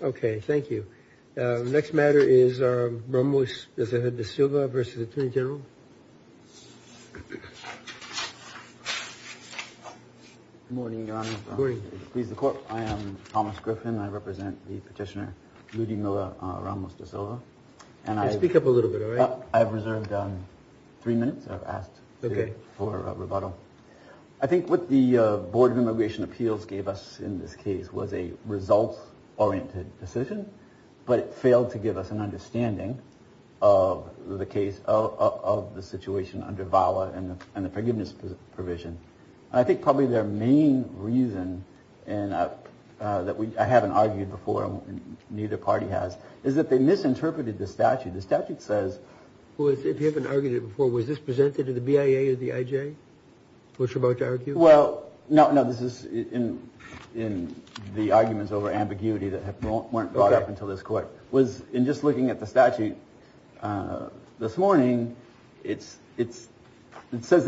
Okay, thank you. The next matter is Ramos de Silva v. Attorney General. Good morning, Your Honor. I am Thomas Griffin. I represent the petitioner, Rudy Milla Ramos de Silva. Speak up a little bit, all right? I've reserved three minutes. I've asked for rebuttal. I think what the Board of Immigration Appeals gave us in this case was a results-oriented decision, but it failed to give us an understanding of the case, of the situation under VAWA and the forgiveness provision. I think probably their main reason that I haven't argued before, and neither party has, is that they misinterpreted the statute. If you haven't argued it before, was this presented to the BIA or the IJ, what you're about to argue? Well, no, this is in the arguments over ambiguity that weren't brought up until this court. In just looking at the statute this morning, it says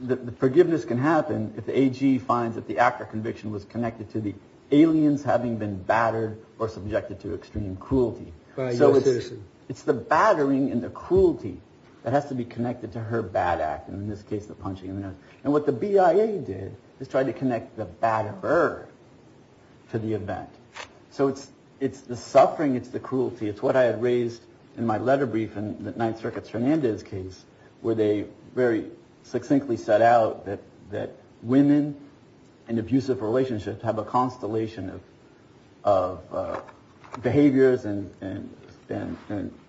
that forgiveness can happen if the AG finds that the act or conviction was connected to the aliens having been battered or subjected to extreme cruelty. By a U.S. citizen. It's the battering and the cruelty that has to be connected to her bad act, and in this case the punching in the nose. And what the BIA did is try to connect the batterer to the event. So it's the suffering, it's the cruelty. It's what I had raised in my letter brief in the Ninth Circuit's Fernandez case, where they very succinctly set out that women in abusive relationships have a constellation of behaviors and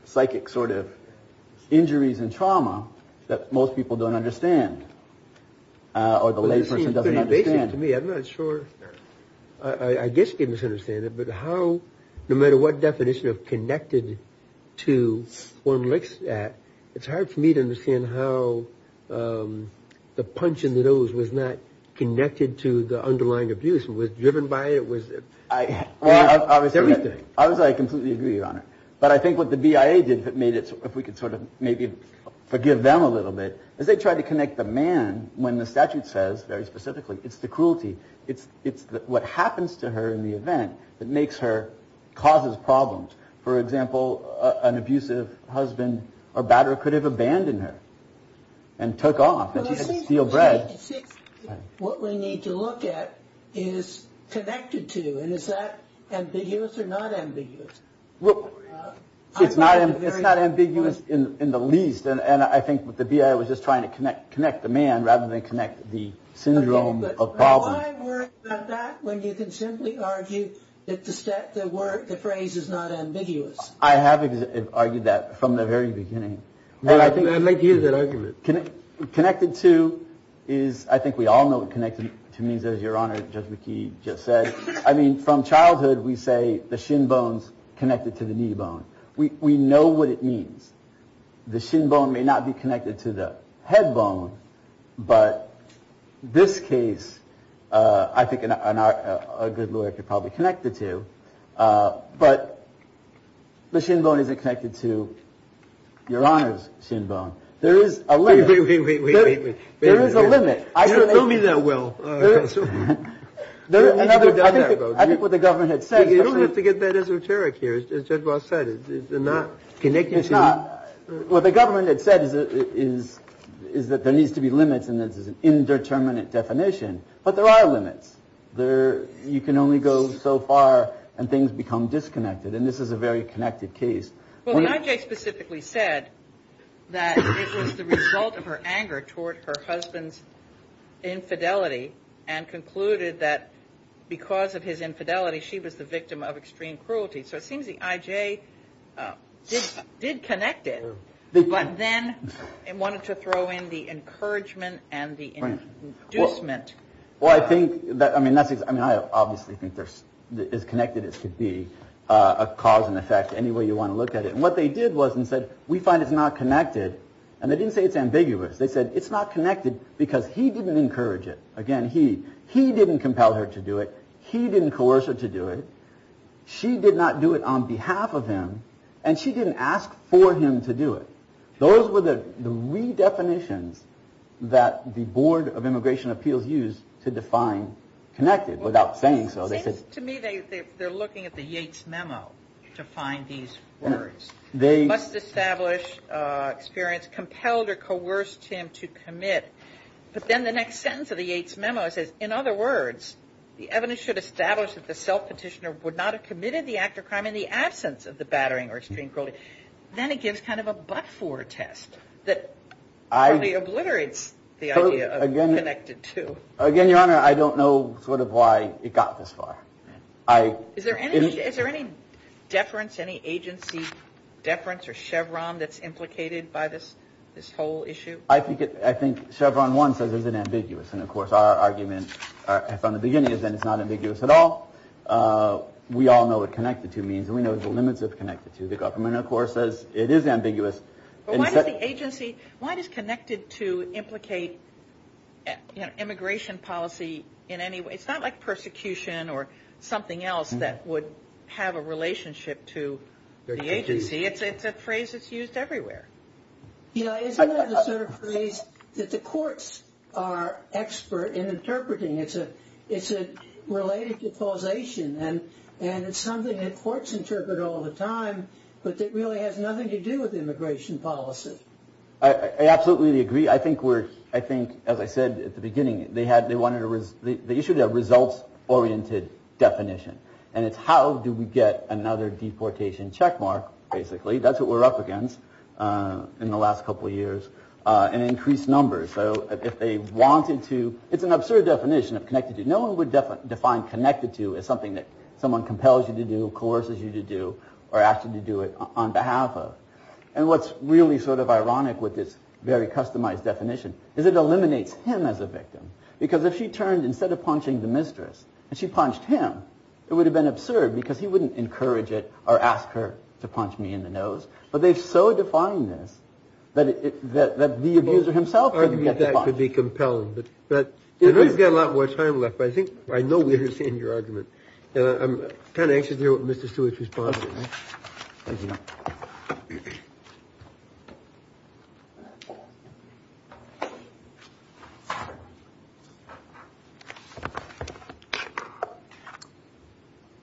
psychic sort of injuries and trauma that most people don't understand or the lay person doesn't understand. To me, I'm not sure. I guess you can understand it. But how no matter what definition of connected to one looks at, it's hard for me to understand how the punch in the nose was not connected to the underlying abuse and was driven by it. Obviously, I completely agree, Your Honor. But I think what the BIA did that made it, if we could sort of maybe forgive them a little bit, is they tried to connect the man when the statute says, very specifically, it's the cruelty. It's what happens to her in the event that makes her, causes problems. For example, an abusive husband or batterer could have abandoned her and took off. What we need to look at is connected to. And is that ambiguous or not ambiguous? Well, it's not. It's not ambiguous in the least. And I think the BIA was just trying to connect, connect the man rather than connect the syndrome of problem. Why worry about that when you can simply argue that the phrase is not ambiguous? I have argued that from the very beginning. I'd like to hear that argument. Connected to is, I think we all know what connected to means, as Your Honor, Judge McKee just said. I mean, from childhood, we say the shin bones connected to the knee bone. We know what it means. The shin bone may not be connected to the head bone. But this case, I think a good lawyer could probably connect the two. But the shin bone isn't connected to your eyes. Shinbone. There is a limit. There is a limit. I don't know me that well. I think what the government had said, you don't have to get that esoteric. Here's just what I said. It's not connected. It's not. What the government had said is, is, is that there needs to be limits. And this is an indeterminate definition. But there are limits there. You can only go so far and things become disconnected. And this is a very connected case. Well, the IJ specifically said that it was the result of her anger toward her husband's infidelity and concluded that because of his infidelity, she was the victim of extreme cruelty. So it seems the IJ did connect it. But then it wanted to throw in the encouragement and the inducement. Well, I think that I mean, that's I mean, I obviously think there's as connected as could be a cause and effect. Anyway, you want to look at it. And what they did was and said, we find it's not connected. And they didn't say it's ambiguous. They said it's not connected because he didn't encourage it. Again, he he didn't compel her to do it. He didn't coerce her to do it. She did not do it on behalf of him. And she didn't ask for him to do it. Those were the redefinitions that the Board of Immigration Appeals used to define connected without saying so. To me, they're looking at the Yates memo to find these words. They must establish experience compelled or coerced him to commit. But then the next sentence of the Yates memo says, in other words, the evidence should establish that the self petitioner would not have committed the act of crime in the absence of the battering or extreme cruelty. Then it gives kind of a but for a test that I obliterates the idea again connected to. Again, your honor, I don't know sort of why it got this far. I is there any is there any deference, any agency deference or Chevron that's implicated by this? This whole issue? I think I think Chevron one says is it ambiguous? And of course, our argument from the beginning is that it's not ambiguous at all. We all know what connected to means and we know the limits of connected to the government, of course, as it is ambiguous. And so the agency, what is connected to implicate immigration policy in any way? It's not like persecution or something else that would have a relationship to the agency. It's a phrase that's used everywhere. You know, isn't that a sort of phrase that the courts are expert in interpreting? It's a it's related to causation and and it's something that courts interpret all the time. But it really has nothing to do with immigration policy. I absolutely agree. I think we're I think, as I said at the beginning, they had they wanted to the issue that results oriented definition. And it's how do we get another deportation checkmark? Basically, that's what we're up against in the last couple of years and increased numbers. So if they wanted to, it's an absurd definition of connected to. No one would define connected to as something that someone compels you to do, coerces you to do or ask you to do it on behalf of. And what's really sort of ironic with this very customized definition is it eliminates him as a victim. Because if she turned instead of punching the mistress and she punched him, it would have been absurd because he wouldn't encourage it or ask her to punch me in the nose. But they've so defined this that it that the abuser himself could be compelled. But you've got a lot more time left. I think I know we're seeing your argument. I'm kind of anxious to hear what Mr. Stewart's response.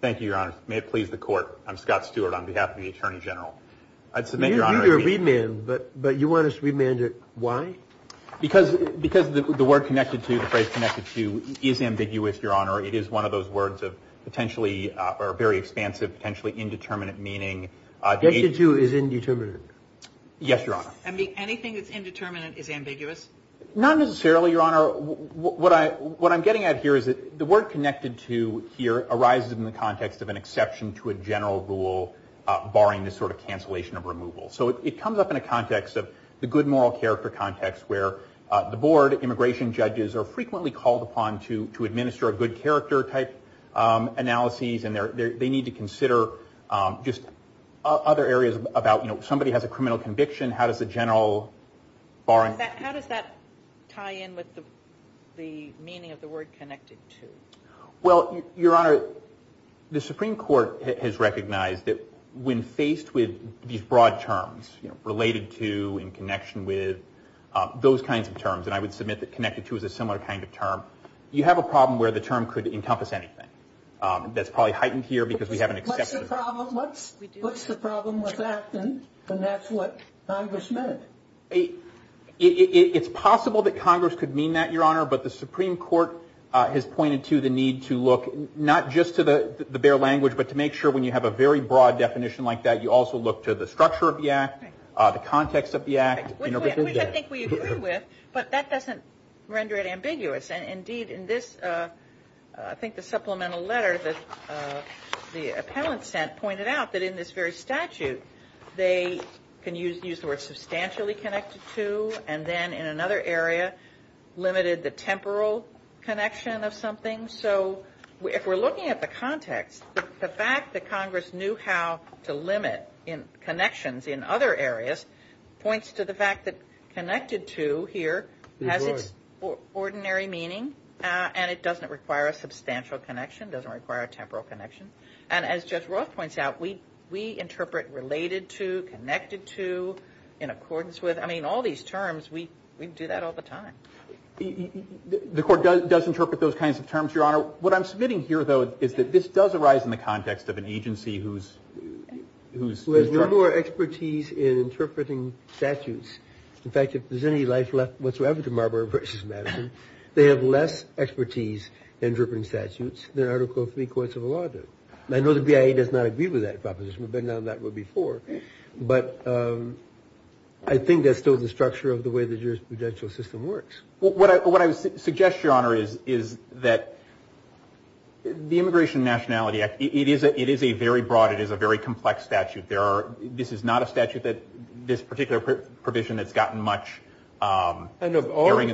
Thank you, Your Honor. May it please the court. I'm Scott Stewart on behalf of the attorney general. I'd submit your honor. But but you want us remanded. Why? Because because the word connected to the phrase connected to is ambiguous. Your Honor, it is one of those words of potentially are very expansive, potentially indeterminate meaning. You do is indeterminate. Yes, Your Honor. I mean, anything that's indeterminate is ambiguous. Not necessarily, Your Honor. What I what I'm getting at here is that the word connected to here arises in the context of an exception to a general rule barring this sort of cancellation of removal. So it comes up in a context of the good moral character context where the board immigration judges are frequently called upon to to administer a good character type analysis. And they're they need to consider just other areas about, you know, somebody has a criminal conviction. How does the general bar. How does that tie in with the meaning of the word connected to. Well, Your Honor, the Supreme Court has recognized that when faced with these broad terms related to in connection with those kinds of terms, you have a problem where the term could encompass anything that's probably heightened here because we have an exception. What's the problem with that? And that's what Congress meant. It's possible that Congress could mean that, Your Honor. But the Supreme Court has pointed to the need to look not just to the bare language, but to make sure when you have a very broad definition like that, you also look to the structure of the act, the context of the act. Which I think we agree with, but that doesn't render it ambiguous. And indeed, in this, I think the supplemental letter that the appellant sent pointed out that in this very statute, they can use the word substantially connected to and then in another area limited the temporal connection of something. So if we're looking at the context, the fact that Congress knew how to limit connections in other areas points to the fact that connected to here has its ordinary meaning, and it doesn't require a substantial connection, doesn't require a temporal connection. And as Judge Roth points out, we interpret related to, connected to, in accordance with. I mean, all these terms, we do that all the time. The Court does interpret those kinds of terms, Your Honor. What I'm submitting here, though, is that this does arise in the context of an agency who's... Who has no more expertise in interpreting statutes. In fact, if there's any life left whatsoever to Marbury v. Madison, they have less expertise in interpreting statutes than Article III courts of law do. I know the BIA does not agree with that proposition. We've been on that one before. But I think that's still the structure of the way the jurisprudential system works. What I would suggest, Your Honor, is that the Immigration and Nationality Act, it is a very broad, it is a very complex statute. There are... This is not a statute that this particular provision has gotten much hearing in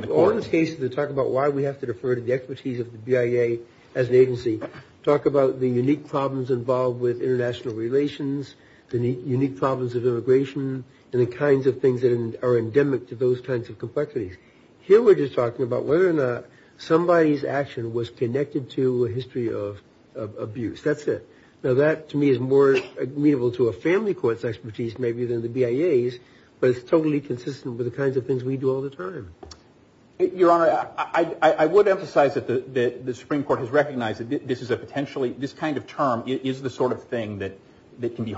the courts. All the cases that talk about why we have to defer to the expertise of the BIA as an agency talk about the unique problems involved with international relations, the unique problems of immigration, and the kinds of things that are endemic to those kinds of complexities. Here we're just talking about whether or not somebody's action was connected to a history of abuse. That's it. Now, that to me is more amenable to a family court's expertise maybe than the BIA's, but it's totally consistent with the kinds of things we do all the time. Your Honor, I would emphasize that the Supreme Court has recognized that this is a potentially... It's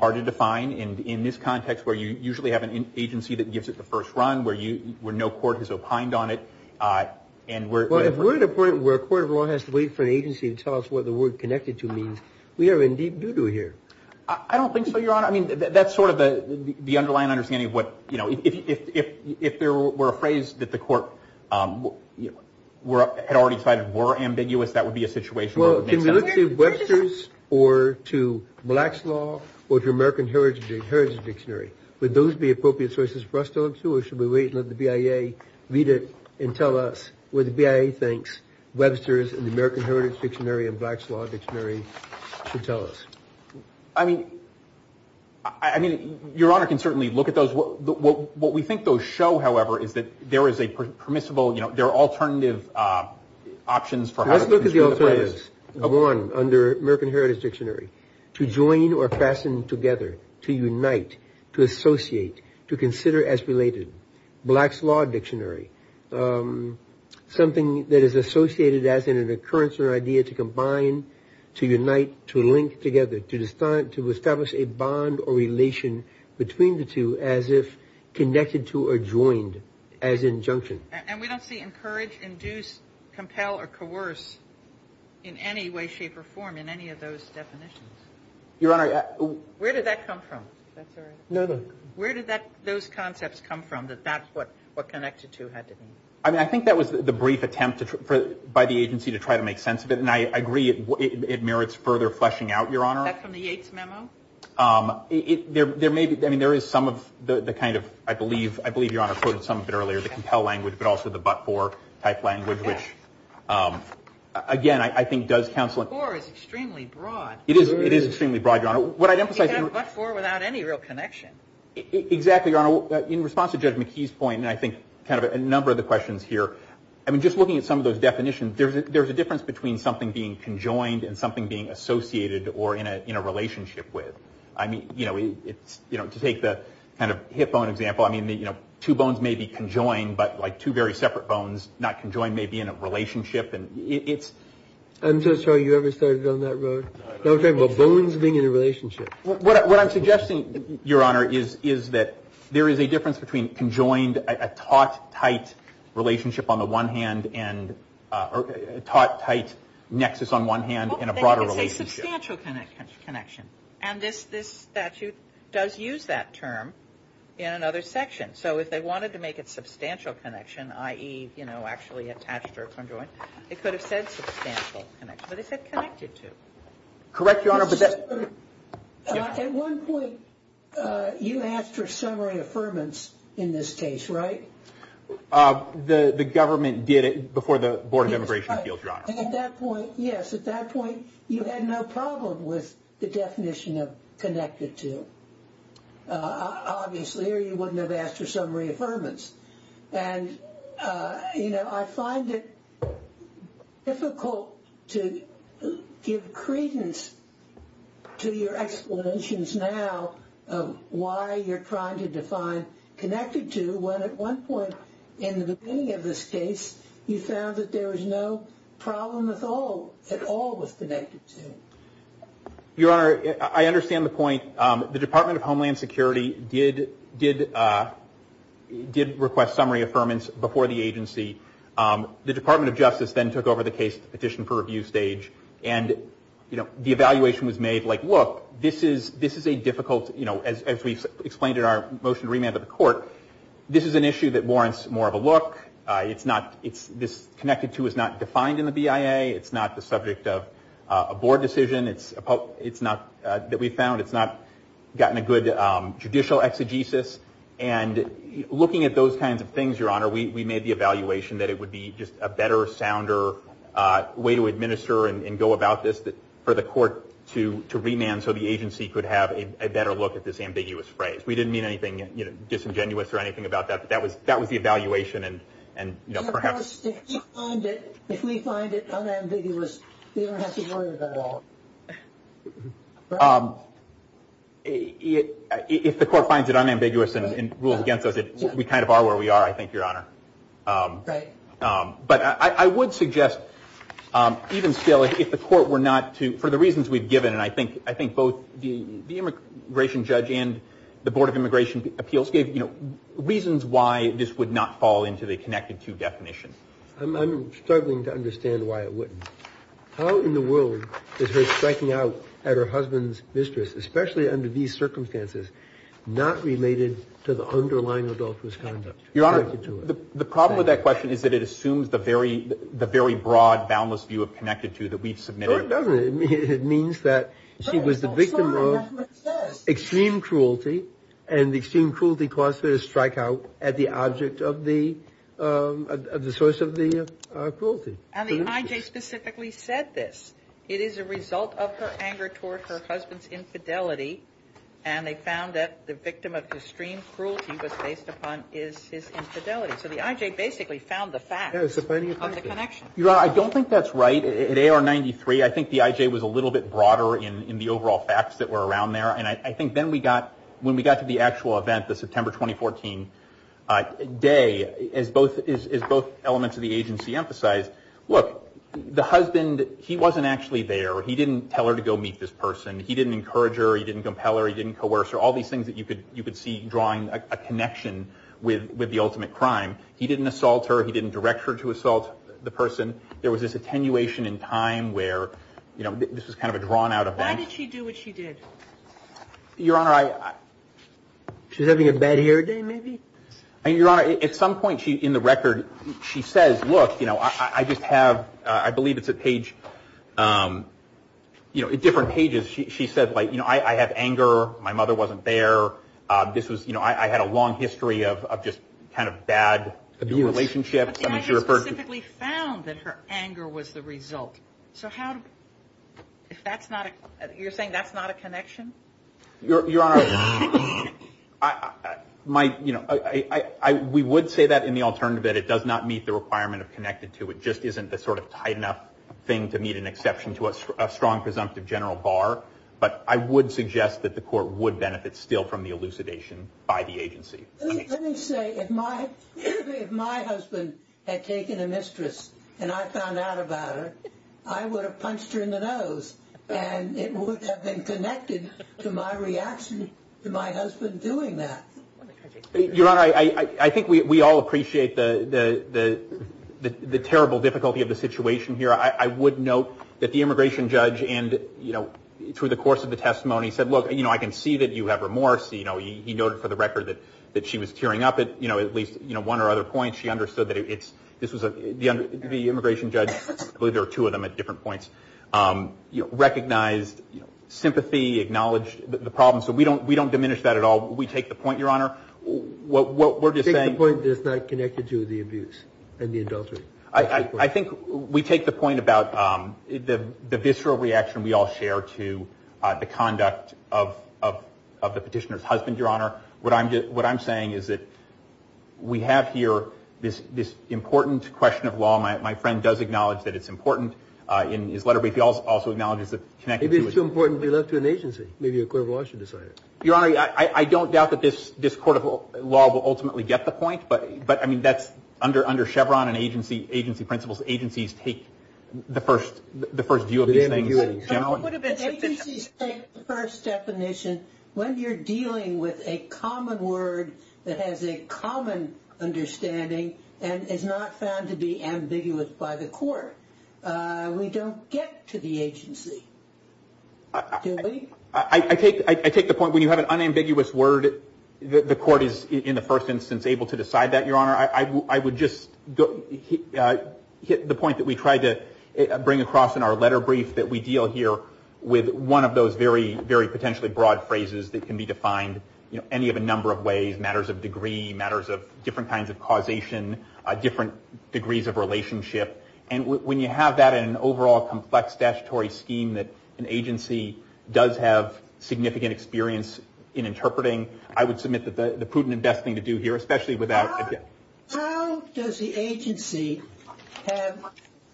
hard to define in this context where you usually have an agency that gives it the first run, where no court has opined on it. Well, if we're at a point where a court of law has to wait for an agency to tell us what the word connected to means, we are in deep doo-doo here. I don't think so, Your Honor. I mean, that's sort of the underlying understanding of what... If there were a phrase that the court had already decided were ambiguous, that would be a situation where it would make sense. Can we look to Webster's or to Black's Law or to American Heritage Dictionary? Would those be appropriate sources for us to look to, or should we wait and let the BIA read it and tell us what the BIA thinks Webster's and the American Heritage Dictionary and Black's Law Dictionary should tell us? I mean, Your Honor can certainly look at those. What we think those show, however, is that there is a permissible... under American Heritage Dictionary to join or fasten together, to unite, to associate, to consider as related. Black's Law Dictionary, something that is associated as an occurrence or idea to combine, to unite, to link together, to establish a bond or relation between the two as if connected to or joined as injunction. And we don't see encourage, induce, compel, or coerce in any way, shape, or form in any of those definitions. Your Honor... Where did that come from? That's all right. No, no. Where did those concepts come from that that's what connected to had to be? I mean, I think that was the brief attempt by the agency to try to make sense of it, and I agree it merits further fleshing out, Your Honor. Is that from the Yates Memo? There may be... I mean, there is some of the kind of, I believe... I believe Your Honor quoted some of it earlier, the compel language, but also the but-for type language, which, again, I think does counsel... But-for is extremely broad. It is extremely broad, Your Honor. But-for without any real connection. Exactly, Your Honor. In response to Judge McKee's point, and I think kind of a number of the questions here, I mean, just looking at some of those definitions, there's a difference between something being conjoined and something being associated or in a relationship with. I mean, you know, to take the kind of hip bone example, I mean, you know, two bones may be conjoined, but like two very separate bones not conjoined may be in a relationship, and it's... I'm so sorry. You ever started on that road? No, I'm talking about bones being in a relationship. What I'm suggesting, Your Honor, is that there is a difference between conjoined, a taut, tight relationship on the one hand, and a taut, tight nexus on one hand, and a broader relationship. Well, they could say substantial connection. And this statute does use that term in another section. So if they wanted to make it substantial connection, i.e., you know, actually attached or conjoined, it could have said substantial connection. But it said connected to. Correct, Your Honor. At one point you asked for summary affirmance in this case, right? The government did it before the Board of Immigration Appeals, Your Honor. Yes, at that point you had no problem with the definition of connected to, obviously, or you wouldn't have asked for summary affirmance. And, you know, I find it difficult to give credence to your explanations now of why you're trying to define connected to when at one point in the beginning of this case you found that there was no problem at all with connected to. Your Honor, I understand the point. The Department of Homeland Security did request summary affirmance before the agency. The Department of Justice then took over the case petition for review stage. And, you know, the evaluation was made like, look, this is a difficult, you know, as we explained in our motion to remand to the court, this is an issue that warrants more of a look. This connected to is not defined in the BIA. It's not the subject of a board decision. It's not that we found. It's not gotten a good judicial exegesis. And looking at those kinds of things, Your Honor, we made the evaluation that it would be just a better, sounder way to administer and go about this for the court to remand so the agency could have a better look at this ambiguous phrase. We didn't mean anything, you know, disingenuous or anything about that. But that was the evaluation. If we find it unambiguous, we don't have to worry about it at all. If the court finds it unambiguous and rules against us, we kind of are where we are, I think, Your Honor. Right. But I would suggest even still, if the court were not to, for the reasons we've given, and I think both the immigration judge and the Board of Immigration Appeals gave reasons why this would not fall into the connected-to definition. I'm struggling to understand why it wouldn't. How in the world is her striking out at her husband's mistress, especially under these circumstances, not related to the underlying adulterous conduct? Your Honor, the problem with that question is that it assumes the very broad, boundless view of connected-to that we've submitted. No, it doesn't. It means that she was the victim of extreme cruelty, and extreme cruelty caused her to strike out at the object of the source of the cruelty. And the I.J. specifically said this. It is a result of her anger toward her husband's infidelity, and they found that the victim of extreme cruelty was based upon his infidelity. So the I.J. basically found the facts on the connection. Your Honor, I don't think that's right. At A.R. 93, I think the I.J. was a little bit broader in the overall facts that were around there, and I think when we got to the actual event, the September 2014 day, as both elements of the agency emphasized, look, the husband, he wasn't actually there. He didn't tell her to go meet this person. He didn't encourage her. He didn't compel her. He didn't coerce her. All these things that you could see drawing a connection with the ultimate crime. He didn't assault her. He didn't direct her to assault the person. There was this attenuation in time where, you know, this was kind of a drawn-out event. Why did she do what she did? Your Honor, I- She was having a bad hair day, maybe? Your Honor, at some point in the record, she says, look, you know, I just have, I believe it's a page, you know, different pages. She said, like, you know, I have anger. My mother wasn't there. This was, you know, I had a long history of just kind of bad- Abuse. But the anger specifically found that her anger was the result. So how- If that's not a- You're saying that's not a connection? Your Honor, my, you know, we would say that in the alternative. It does not meet the requirement of connected to. It just isn't the sort of tight enough thing to meet an exception to a strong presumptive general bar. But I would suggest that the court would benefit still from the elucidation by the agency. Let me say, if my husband had taken a mistress and I found out about it, I would have punched her in the nose. And it would have been connected to my reaction to my husband doing that. Your Honor, I think we all appreciate the terrible difficulty of the situation here. I would note that the immigration judge, and, you know, through the course of the testimony, said, look, you know, I can see that you have remorse. You know, he noted for the record that she was tearing up at, you know, at least, you know, one or other points. She understood that it's-this was a-the immigration judge, I believe there were two of them at different points, recognized sympathy, acknowledged the problem. So we don't diminish that at all. We take the point, Your Honor, what we're just saying- You take the point that it's not connected to the abuse and the adultery. I think we take the point about the visceral reaction we all share to the conduct of the petitioner's husband, Your Honor. What I'm saying is that we have here this important question of law. My friend does acknowledge that it's important in his letter, but he also acknowledges that- Maybe it's too important to be left to an agency. Maybe a court of law should decide it. Your Honor, I don't doubt that this court of law will ultimately get the point, but, I mean, that's under Chevron and agency principles. Agencies take the first view of this thing. The agencies take the first definition. When you're dealing with a common word that has a common understanding and is not found to be ambiguous by the court, we don't get to the agency, do we? I take the point when you have an unambiguous word, the court is, in the first instance, able to decide that, Your Honor. I would just hit the point that we tried to bring across in our letter brief, that we deal here with one of those very, very potentially broad phrases that can be defined any of a number of ways, matters of degree, matters of different kinds of causation, different degrees of relationship. And when you have that in an overall complex statutory scheme that an agency does have significant experience in interpreting, I would submit that the prudent and best thing to do here, especially without- How does the agency have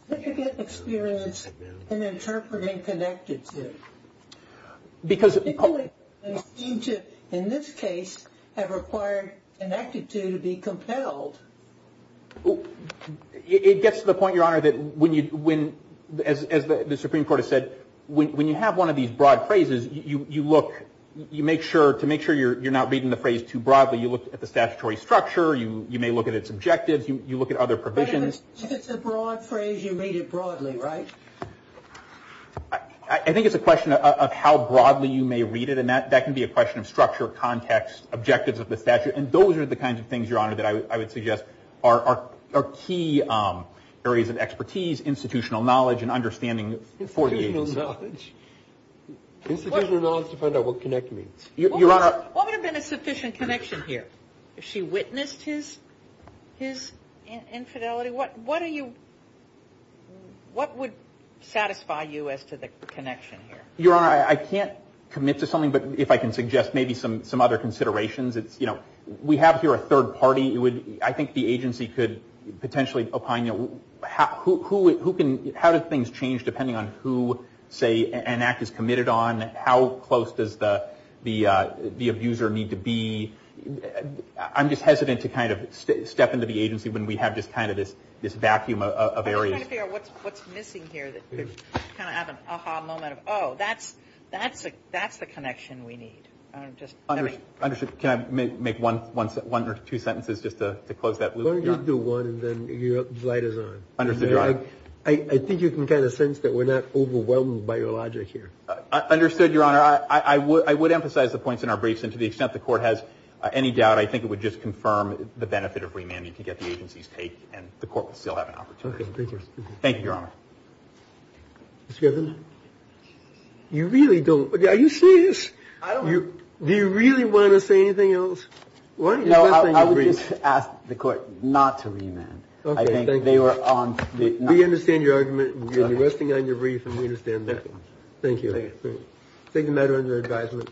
significant experience in interpreting connected to? Because- In this case, have required connected to be compelled. It gets to the point, Your Honor, that when, as the Supreme Court has said, when you have one of these broad phrases, you look, you make sure, to make sure you're not reading the phrase too broadly, you look at the statutory structure, you may look at its objectives, you look at other provisions. But if it's a broad phrase, you read it broadly, right? I think it's a question of how broadly you may read it, and that can be a question of structure, context, objectives of the statute. And those are the kinds of things, Your Honor, that I would suggest are key areas of expertise, institutional knowledge, and understanding for the agency. Institutional knowledge? Institutional knowledge to find out what connect means. Your Honor- What would have been a sufficient connection here? If she witnessed his infidelity, what would satisfy you as to the connection here? Your Honor, I can't commit to something, but if I can suggest maybe some other considerations, it's, you know, we have here a third party. I think the agency could potentially opine, you know, how do things change depending on who, say, an act is committed on, how close does the abuser need to be? I'm just hesitant to kind of step into the agency when we have just kind of this vacuum of areas. I'm just trying to figure out what's missing here, kind of have an aha moment of, oh, that's the connection we need. Can I make one or two sentences just to close that loop? Why don't you do one and then your light is on? Understood, Your Honor. I think you can kind of sense that we're not overwhelmed by your logic here. Understood, Your Honor. I would emphasize the points in our briefs, and to the extent the Court has any doubt, I think it would just confirm the benefit of remand. You can get the agency's take, and the Court would still have an opportunity. Okay, thank you. Thank you, Your Honor. Mr. Griffin? You really don't. Are you serious? I don't. Do you really want to say anything else? No, I would just ask the Court not to remand. Okay, thank you. I think they were on. We understand your argument. You're resting on your brief, and we understand that. Thank you. Thank you. Take the matter under advisement.